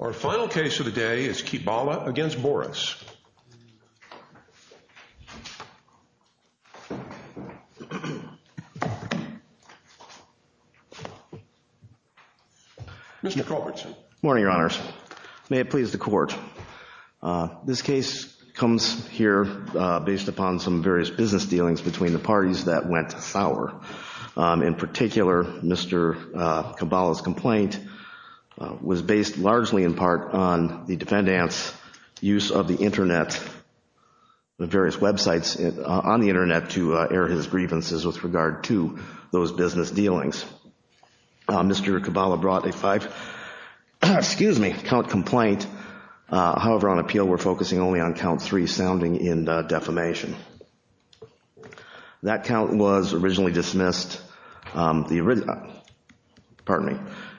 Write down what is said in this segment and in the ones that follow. Our final case of the day is Kiebala v. Boris. Mr. Culbertson. Good morning, Your Honors. May it please the Court, this case comes here based upon some various business dealings between the parties that went sour. In particular, Mr. Kiebala's complaint was based largely in part on the defendant's use of the Internet, the various websites on the Internet to air his grievances with regard to those business dealings. Mr. Kiebala brought a five, excuse me, count complaint. However, on appeal, we're focusing only on count three sounding in defamation. That count was originally dismissed, pardon me,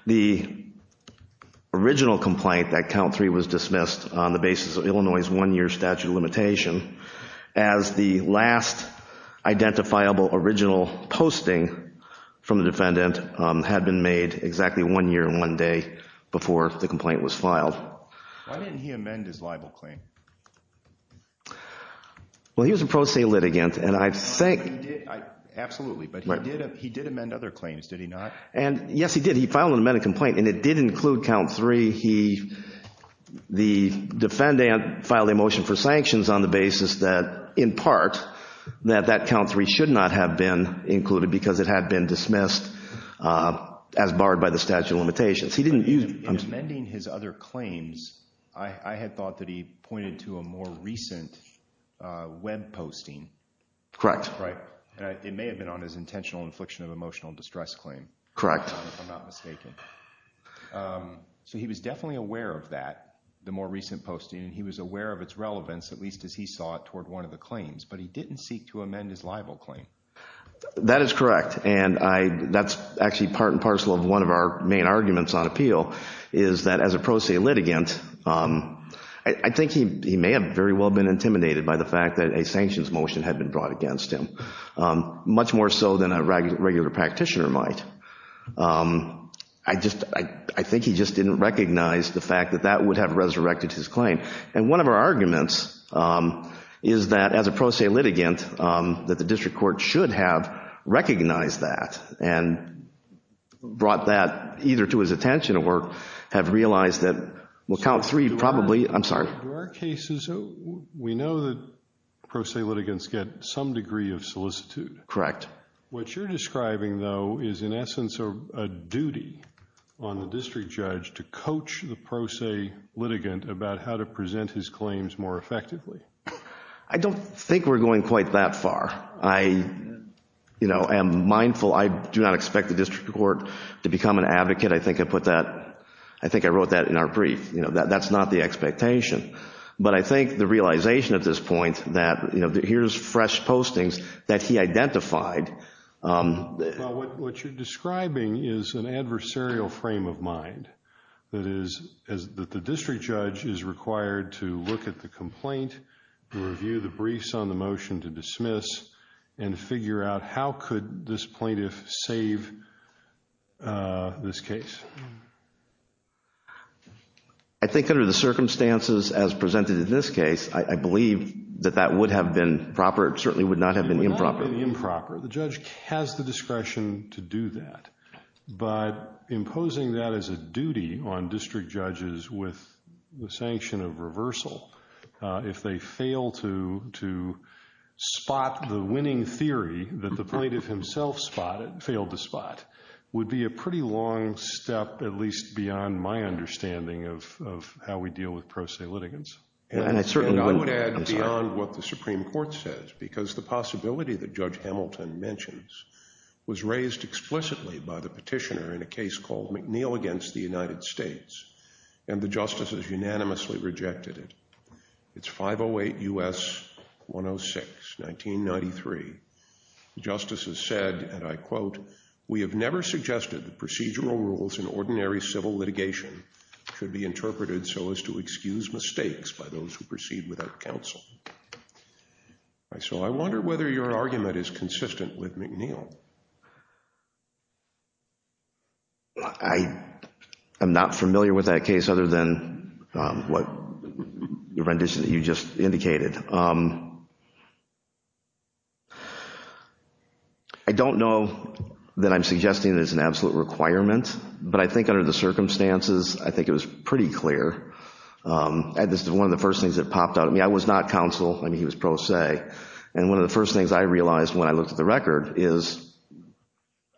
the original complaint that count three was dismissed on the basis of Illinois' one-year statute of limitation as the last identifiable original posting from the defendant had been made exactly one year and one day before the complaint was filed. Why didn't he amend his libel claim? Well, he was a pro se litigant, and I think… Absolutely, but he did amend other claims, did he not? And yes, he did. He filed an amended complaint, and it did include count three. He, the defendant, filed a motion for sanctions on the basis that, in part, that that count three should not have been included because it had been dismissed as barred by the statute of limitations. He didn't use… Amending his other claims, I had thought that he pointed to a more recent web posting. Correct. It may have been on his intentional infliction of emotional distress claim. Correct. If I'm not mistaken. So he was definitely aware of that, the more recent posting, and he was aware of its relevance, at least as he saw it, toward one of the claims. But he didn't seek to amend his libel claim. That is correct, and that's actually part and parcel of one of our main arguments on appeal, is that as a pro se litigant, I think he may have very well been intimidated by the fact that a sanctions motion had been brought against him, much more so than a regular practitioner might. I think he just didn't recognize the fact that that would have resurrected his claim. And one of our arguments is that as a pro se litigant, that the district court should have recognized that and brought that either to his attention or have realized that, well, count three, probably, I'm sorry. In our cases, we know that pro se litigants get some degree of solicitude. Correct. What you're describing, though, is in essence a duty on the district judge to coach the pro se litigant about how to present his claims more effectively. I don't think we're going quite that far. I am mindful I do not expect the district court to become an advocate. I think I wrote that in our brief. That's not the expectation. But I think the realization at this point that here's fresh postings that he identified. Well, what you're describing is an adversarial frame of mind. That is, that the district judge is required to look at the complaint, to review the briefs on the motion to dismiss, and figure out how could this plaintiff save this case. I think under the circumstances as presented in this case, I believe that that would have been proper. It certainly would not have been improper. The judge has the discretion to do that. But imposing that as a duty on district judges with the sanction of reversal, if they fail to spot the winning theory that the plaintiff himself failed to spot, would be a pretty long step, at least beyond my understanding, of how we deal with pro se litigants. I would add beyond what the Supreme Court says, because the possibility that Judge Hamilton mentions was raised explicitly by the petitioner in a case called McNeil against the United States, and the justices unanimously rejected it. It's 508 U.S. 106, 1993. The justices said, and I quote, we have never suggested that procedural rules in ordinary civil litigation should be interpreted so as to excuse mistakes by those who proceed without counsel. So I wonder whether your argument is consistent with McNeil. I am not familiar with that case other than what you just indicated. I don't know that I'm suggesting there's an absolute requirement, but I think under the circumstances, I think it was pretty clear. And this is one of the first things that popped out at me. I was not counsel. I mean, he was pro se. And one of the first things I realized when I looked at the record is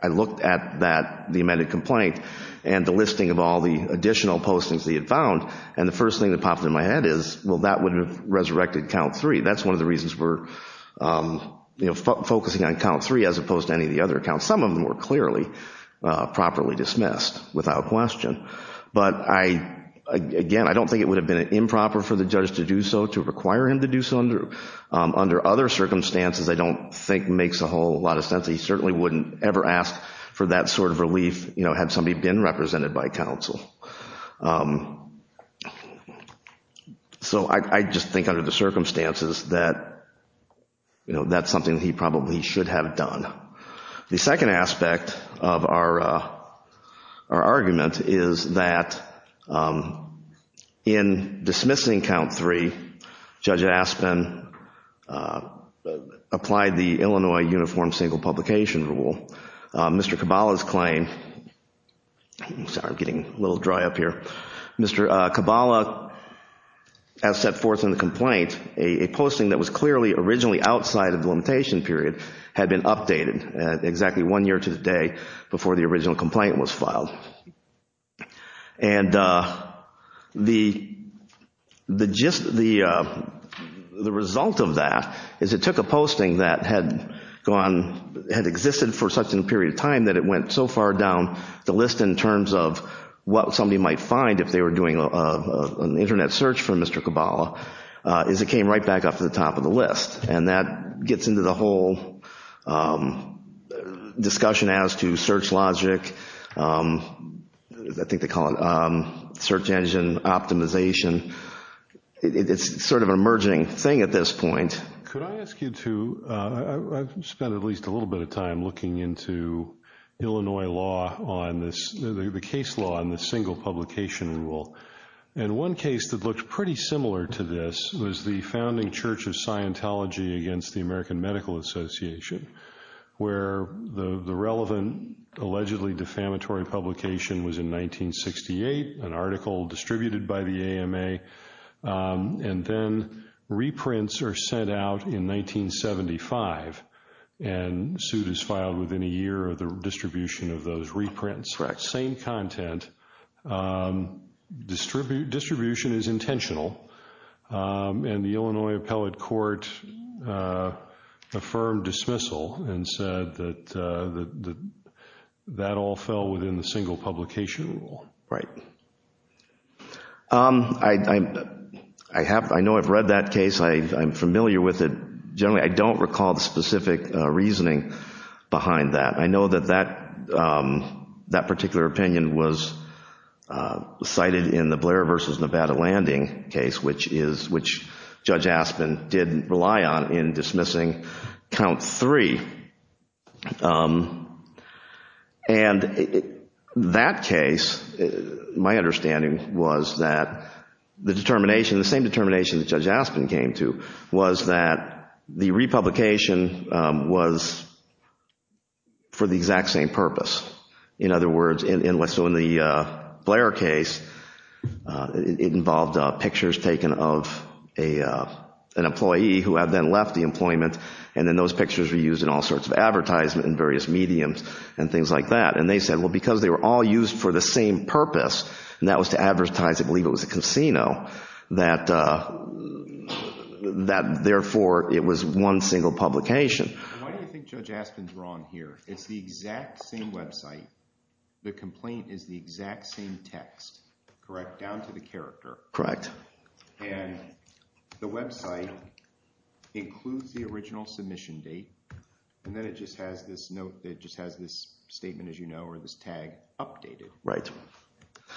I looked at that, the amended complaint, and the listing of all the additional postings that he had found, and the first thing that popped into my head is, well, that would have resurrected count three. That's one of the reasons we're focusing on count three as opposed to any of the other accounts. Some of them were clearly properly dismissed without question. But, again, I don't think it would have been improper for the judge to do so, to require him to do so under other circumstances I don't think makes a whole lot of sense. He certainly wouldn't ever ask for that sort of relief had somebody been represented by counsel. So I just think under the circumstances that that's something he probably should have done. The second aspect of our argument is that in dismissing count three, Judge Aspin applied the Illinois Uniform Single Publication Rule. Mr. Caballa's claim, sorry, I'm getting a little dry up here. Mr. Caballa, as set forth in the complaint, a posting that was clearly originally outside of the limitation period had been updated at exactly one year to the day before the original complaint was filed. And the result of that is it took a posting that had existed for such a period of time that it went so far down the list in terms of what somebody might find if they were doing an Internet search for Mr. Caballa is it came right back up to the top of the list. And that gets into the whole discussion as to search logic, I think they call it search engine optimization. It's sort of an emerging thing at this point. Could I ask you to, I've spent at least a little bit of time looking into Illinois law on this, the case law on the single publication rule. And one case that looked pretty similar to this was the founding church of Scientology against the American Medical Association where the relevant allegedly defamatory publication was in 1968, an article distributed by the AMA, and then reprints are sent out in 1975 and suit is filed within a year of the distribution of those reprints. Correct. Same content. Distribution is intentional. And the Illinois appellate court affirmed dismissal and said that that all fell within the single publication rule. Right. I know I've read that case. I'm familiar with it. Generally, I don't recall the specific reasoning behind that. I know that that particular opinion was cited in the Blair versus Nevada landing case, which Judge Aspin did rely on in dismissing count three. And that case, my understanding was that the determination, the same determination that Judge Aspin came to was that the republication was for the exact same purpose. In other words, so in the Blair case, it involved pictures taken of an employee who had then left the employment and then those pictures were used in all sorts of advertisement in various mediums and things like that. And they said, well, because they were all used for the same purpose, and that was to advertise, I believe it was a casino, that therefore it was one single publication. Why do you think Judge Aspin's wrong here? It's the exact same website. The complaint is the exact same text, correct, down to the character. Correct. And the website includes the original submission date. And then it just has this note that just has this statement, as you know, or this tag updated. Right.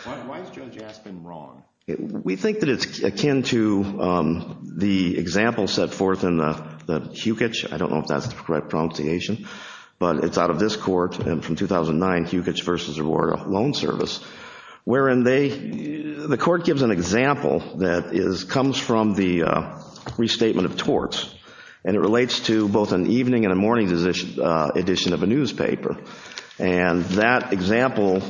Why is Judge Aspin wrong? We think that it's akin to the example set forth in the Hukich. I don't know if that's the correct pronunciation, but it's out of this court from 2009, Hukich v. Aurora Loan Service, wherein the court gives an example that comes from the restatement of torts, and it relates to both an evening and a morning edition of a newspaper. And that example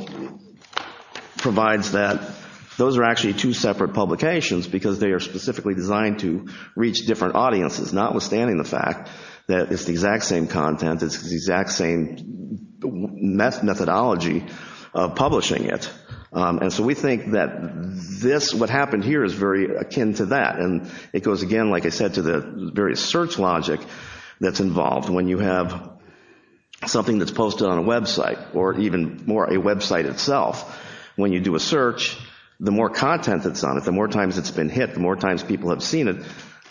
provides that those are actually two separate publications because they are specifically designed to reach different audiences, notwithstanding the fact that it's the exact same content, it's the exact same methodology of publishing it. And so we think that this, what happened here, is very akin to that. And it goes again, like I said, to the various search logic that's involved. When you have something that's posted on a website, or even more, a website itself, when you do a search, the more content that's on it, the more times it's been hit, the more times people have seen it,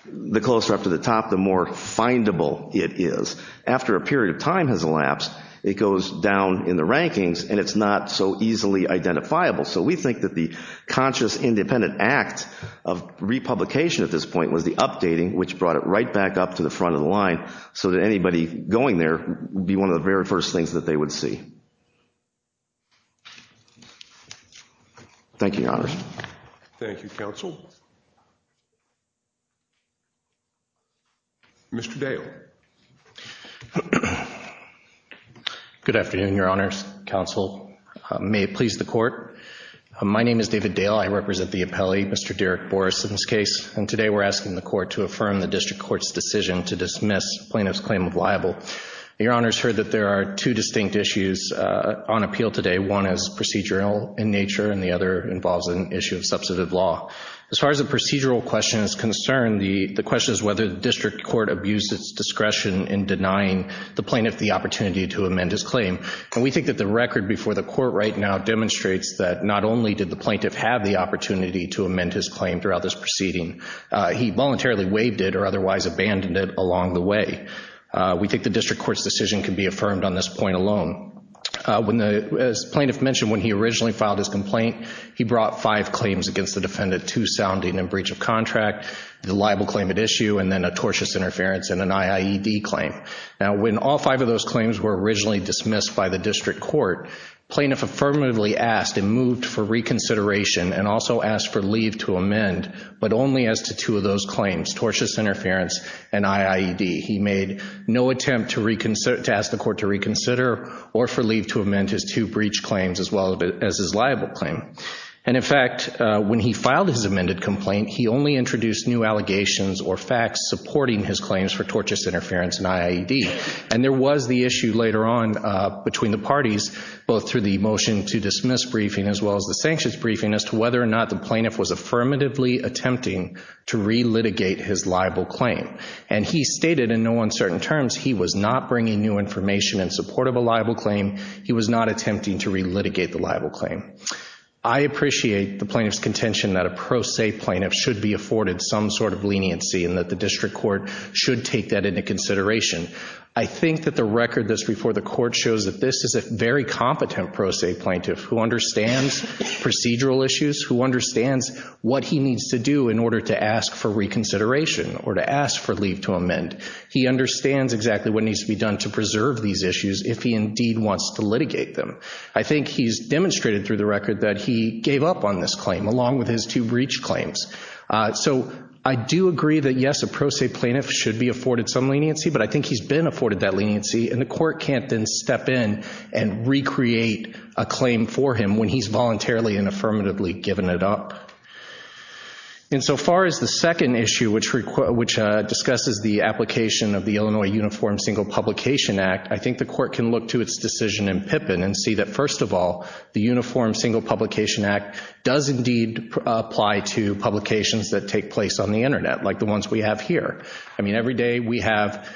the closer up to the top, the more findable it is. After a period of time has elapsed, it goes down in the rankings, and it's not so easily identifiable. So we think that the conscious independent act of republication at this point was the updating, which brought it right back up to the front of the line so that anybody going there would be one of the very first things that they would see. Thank you, Your Honors. Thank you, Counsel. Mr. Dale. Good afternoon, Your Honors, Counsel. May it please the Court. My name is David Dale. I represent the appellee, Mr. Derek Boris, in this case, and today we're asking the Court to affirm the district court's decision to dismiss plaintiff's claim of libel. Your Honors heard that there are two distinct issues on appeal today. One is procedural in nature, and the other involves an issue of substantive law. As far as the procedural question is concerned, the question is whether the district court abused its discretion in denying the plaintiff the opportunity to amend his claim. And we think that the record before the Court right now demonstrates that not only did the plaintiff have the opportunity to amend his claim throughout this proceeding, he voluntarily waived it or otherwise abandoned it along the way. We think the district court's decision can be affirmed on this point alone. As the plaintiff mentioned, when he originally filed his complaint, he brought five claims against the defendant, two sounding in breach of contract, the libel claim at issue, and then a tortious interference and an IIED claim. Now, when all five of those claims were originally dismissed by the district court, plaintiff affirmatively asked and moved for reconsideration and also asked for leave to amend, but only as to two of those claims, tortious interference and IIED. He made no attempt to ask the Court to reconsider or for leave to amend his two breach claims as well as his libel claim. And, in fact, when he filed his amended complaint, he only introduced new allegations or facts supporting his claims for tortious interference and IIED. And there was the issue later on between the parties, both through the motion to dismiss briefing as well as the sanctions briefing, as to whether or not the plaintiff was affirmatively attempting to re-litigate his libel claim. And he stated in no uncertain terms he was not bringing new information in support of a libel claim. He was not attempting to re-litigate the libel claim. I appreciate the plaintiff's contention that a pro se plaintiff should be afforded some sort of leniency and that the district court should take that into consideration. I think that the record that's before the court shows that this is a very competent pro se plaintiff who understands procedural issues, who understands what he needs to do in order to ask for reconsideration or to ask for leave to amend. He understands exactly what needs to be done to preserve these issues if he indeed wants to litigate them. I think he's demonstrated through the record that he gave up on this claim, along with his two breach claims. So I do agree that, yes, a pro se plaintiff should be afforded some leniency, but I think he's been afforded that leniency, and the court can't then step in and recreate a claim for him when he's voluntarily and affirmatively given it up. And so far as the second issue, which discusses the application of the Illinois Uniform Single Publication Act, I think the court can look to its decision in Pippin and see that, first of all, the Uniform Single Publication Act does indeed apply to publications that take place on the Internet, like the ones we have here. I mean, every day we have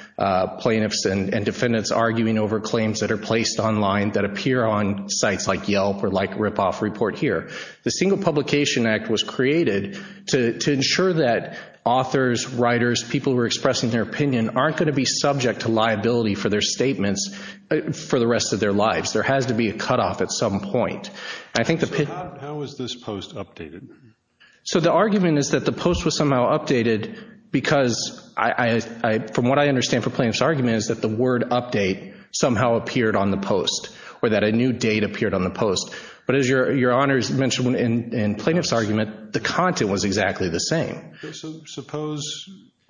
plaintiffs and defendants arguing over claims that are placed online that appear on sites like Yelp or like Ripoff Report here. The Single Publication Act was created to ensure that authors, writers, people who are expressing their opinion aren't going to be subject to liability for their statements for the rest of their lives. There has to be a cutoff at some point. I think the Pippin. So how is this post updated? So the argument is that the post was somehow updated because, from what I understand from plaintiff's argument, is that the word update somehow appeared on the post or that a new date appeared on the post. But as your honors mentioned in plaintiff's argument, the content was exactly the same. So suppose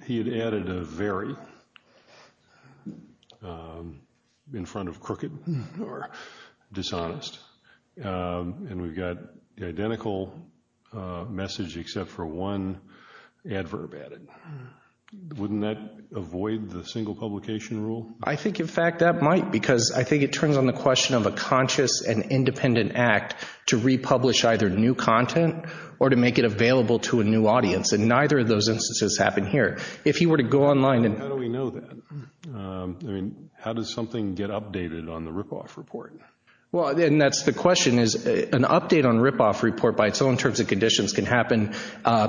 he had added a very in front of crooked or dishonest, and we've got the identical message except for one adverb added. Wouldn't that avoid the single publication rule? I think, in fact, that might, because I think it turns on the question of a conscious and independent act to republish either new content or to make it available to a new audience. And neither of those instances happen here. If he were to go online and... How do we know that? I mean, how does something get updated on the Ripoff Report? Well, and that's the question is an update on Ripoff Report by its own terms and conditions can happen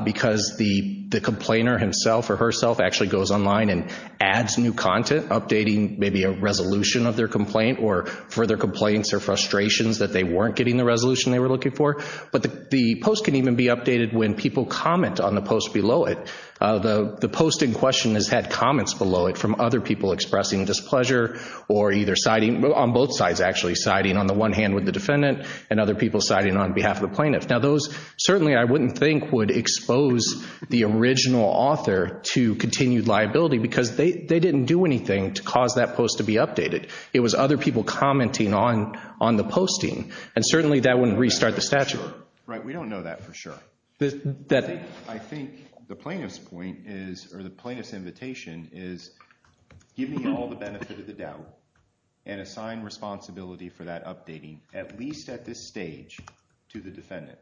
because the complainer himself or herself actually goes online and adds new content updating maybe a resolution of their complaint or further complaints or frustrations that they weren't getting the resolution they were looking for. But the post can even be updated when people comment on the post below it. The post in question has had comments below it from other people expressing displeasure or either siding on both sides actually siding on the one hand with the defendant and other people siding on behalf of the plaintiff. Now those certainly I wouldn't think would expose the original author to continued liability because they didn't do anything to cause that post to be updated. It was other people commenting on the posting. And certainly that wouldn't restart the statute. Right, we don't know that for sure. I think the plaintiff's point is or the plaintiff's invitation is give me all the benefit of the doubt and assign responsibility for that updating at least at this stage to the defendant.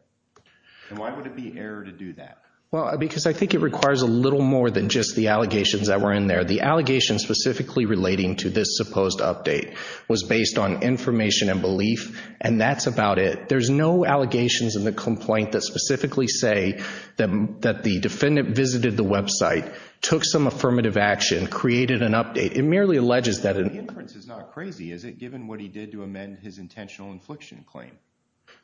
And why would it be error to do that? Well, because I think it requires a little more than just the allegations that were in there. The allegations specifically relating to this supposed update was based on information and belief and that's about it. There's no allegations in the complaint that specifically say that the defendant visited the website, took some affirmative action, created an update. It merely alleges that an inference is not crazy, is it, given what he did to amend his intentional infliction claim.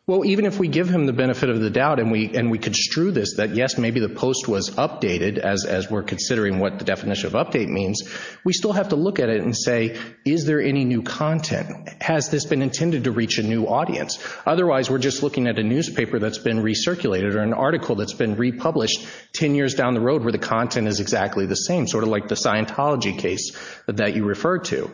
Well, even if we give him the benefit of the doubt and we construe this that, yes, maybe the post was updated as we're considering what the definition of update means, we still have to look at it and say is there any new content? Has this been intended to reach a new audience? Otherwise, we're just looking at a newspaper that's been recirculated or an article that's been republished 10 years down the road where the content is exactly the same, sort of like the Scientology case that you referred to.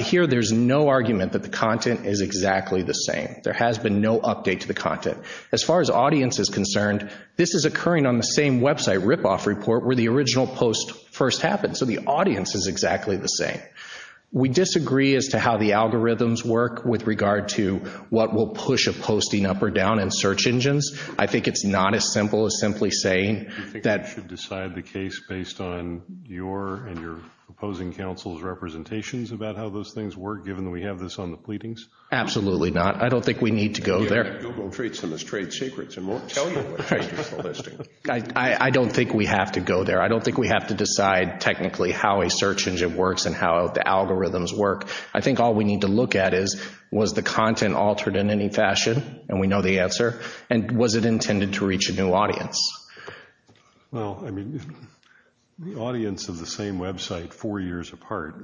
Here there's no argument that the content is exactly the same. There has been no update to the content. As far as audience is concerned, this is occurring on the same website ripoff report where the original post first happened, so the audience is exactly the same. We disagree as to how the algorithms work with regard to what will push a posting up or down in search engines. I think it's not as simple as simply saying that. Do you think we should decide the case based on your and your opposing counsel's representations about how those things work, given that we have this on the pleadings? Absolutely not. I don't think we need to go there. Google treats them as trade secrets and won't tell you what trade secrets they're listing. I don't think we have to go there. I don't think we have to decide technically how a search engine works and how the algorithms work. I think all we need to look at is was the content altered in any fashion, and we know the answer, and was it intended to reach a new audience? Well, I mean, the audience of the same website four years apart,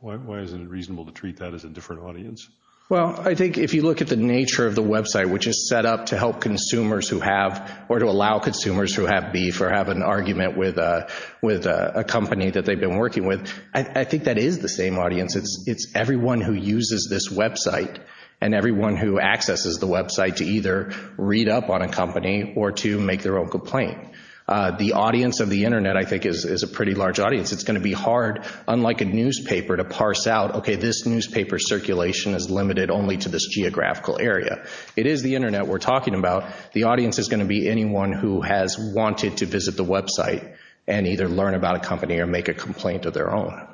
why isn't it reasonable to treat that as a different audience? Well, I think if you look at the nature of the website, which is set up to help consumers who have or to allow consumers who have beef or have an argument with a company that they've been working with, I think that is the same audience. It's everyone who uses this website and everyone who accesses the website to either read up on a company or to make their own complaint. The audience of the Internet, I think, is a pretty large audience. It's going to be hard, unlike a newspaper, to parse out, okay, this newspaper's circulation is limited only to this geographical area. It is the Internet we're talking about. The audience is going to be anyone who has wanted to visit the website and either learn about a company or make a complaint of their own.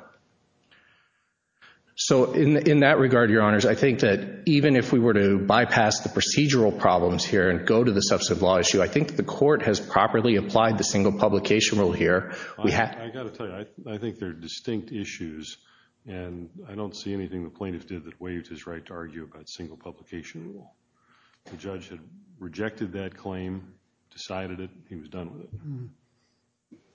So in that regard, Your Honors, I think that even if we were to bypass the procedural problems here and go to the substantive law issue, I think the court has properly applied the single publication rule here. I've got to tell you, I think they're distinct issues, and I don't see anything the plaintiff did that waived his right to argue about single publication rule. The judge had rejected that claim, decided it, he was done with it.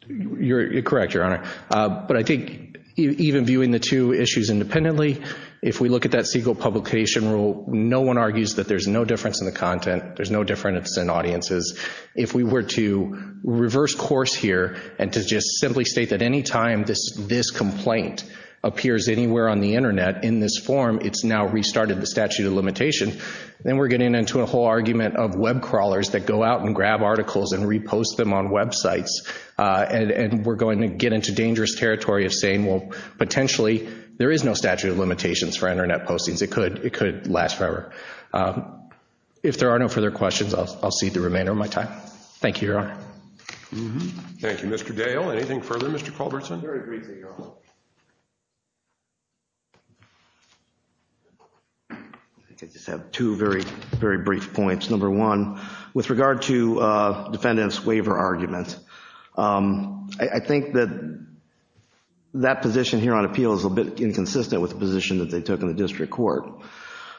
You're correct, Your Honor. But I think even viewing the two issues independently, if we look at that single publication rule, no one argues that there's no difference in the content, there's no difference in audiences. If we were to reverse course here and to just simply state that any time this complaint appears anywhere on the Internet in this form, it's now restarted the statute of limitation, then we're getting into a whole argument of web crawlers that go out and grab articles and repost them on websites, and we're going to get into dangerous territory of saying, well, potentially there is no statute of limitations for Internet postings. It could last forever. If there are no further questions, I'll cede the remainder of my time. Thank you, Your Honor. Thank you. Mr. Dale, anything further? Mr. Culbertson? I just have two very, very brief points. Number one, with regard to defendant's waiver argument, I think that that position here on appeal is a bit inconsistent with the position that they took in the district court,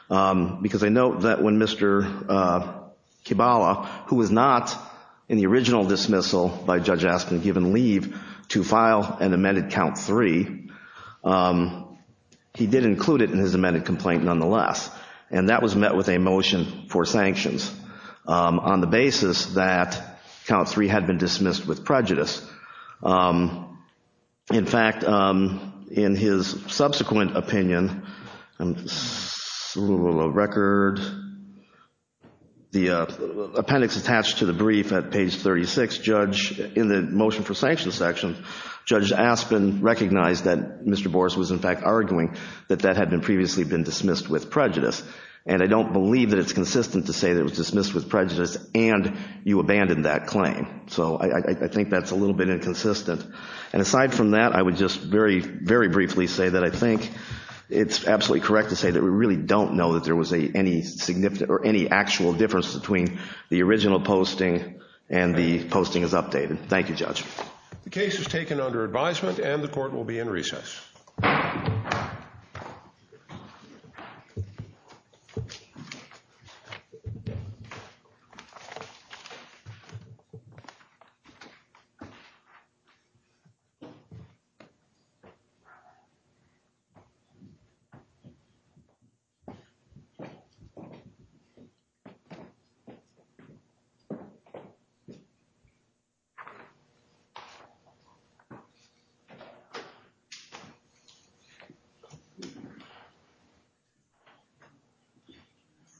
because I note that when Mr. Kibala, who was not in the original dismissal by Judge Askin given leave to file an amended count three, he did include it in his amended complaint nonetheless, and that was met with a motion for sanctions on the basis that count three had been dismissed with prejudice. In fact, in his subsequent opinion, the appendix attached to the brief at page 36, in the motion for sanctions section, Judge Askin recognized that Mr. Boris was in fact arguing that that had previously been dismissed with prejudice, and I don't believe that it's consistent to say that it was dismissed with prejudice and you abandoned that claim. So I think that's a little bit inconsistent. And aside from that, I would just very, very briefly say that I think it's absolutely correct to say that we really don't know that there was any significant or any actual difference between the original posting and the posting is updated. Thank you, Judge. The case is taken under advisement and the court will be in recess. Thank you.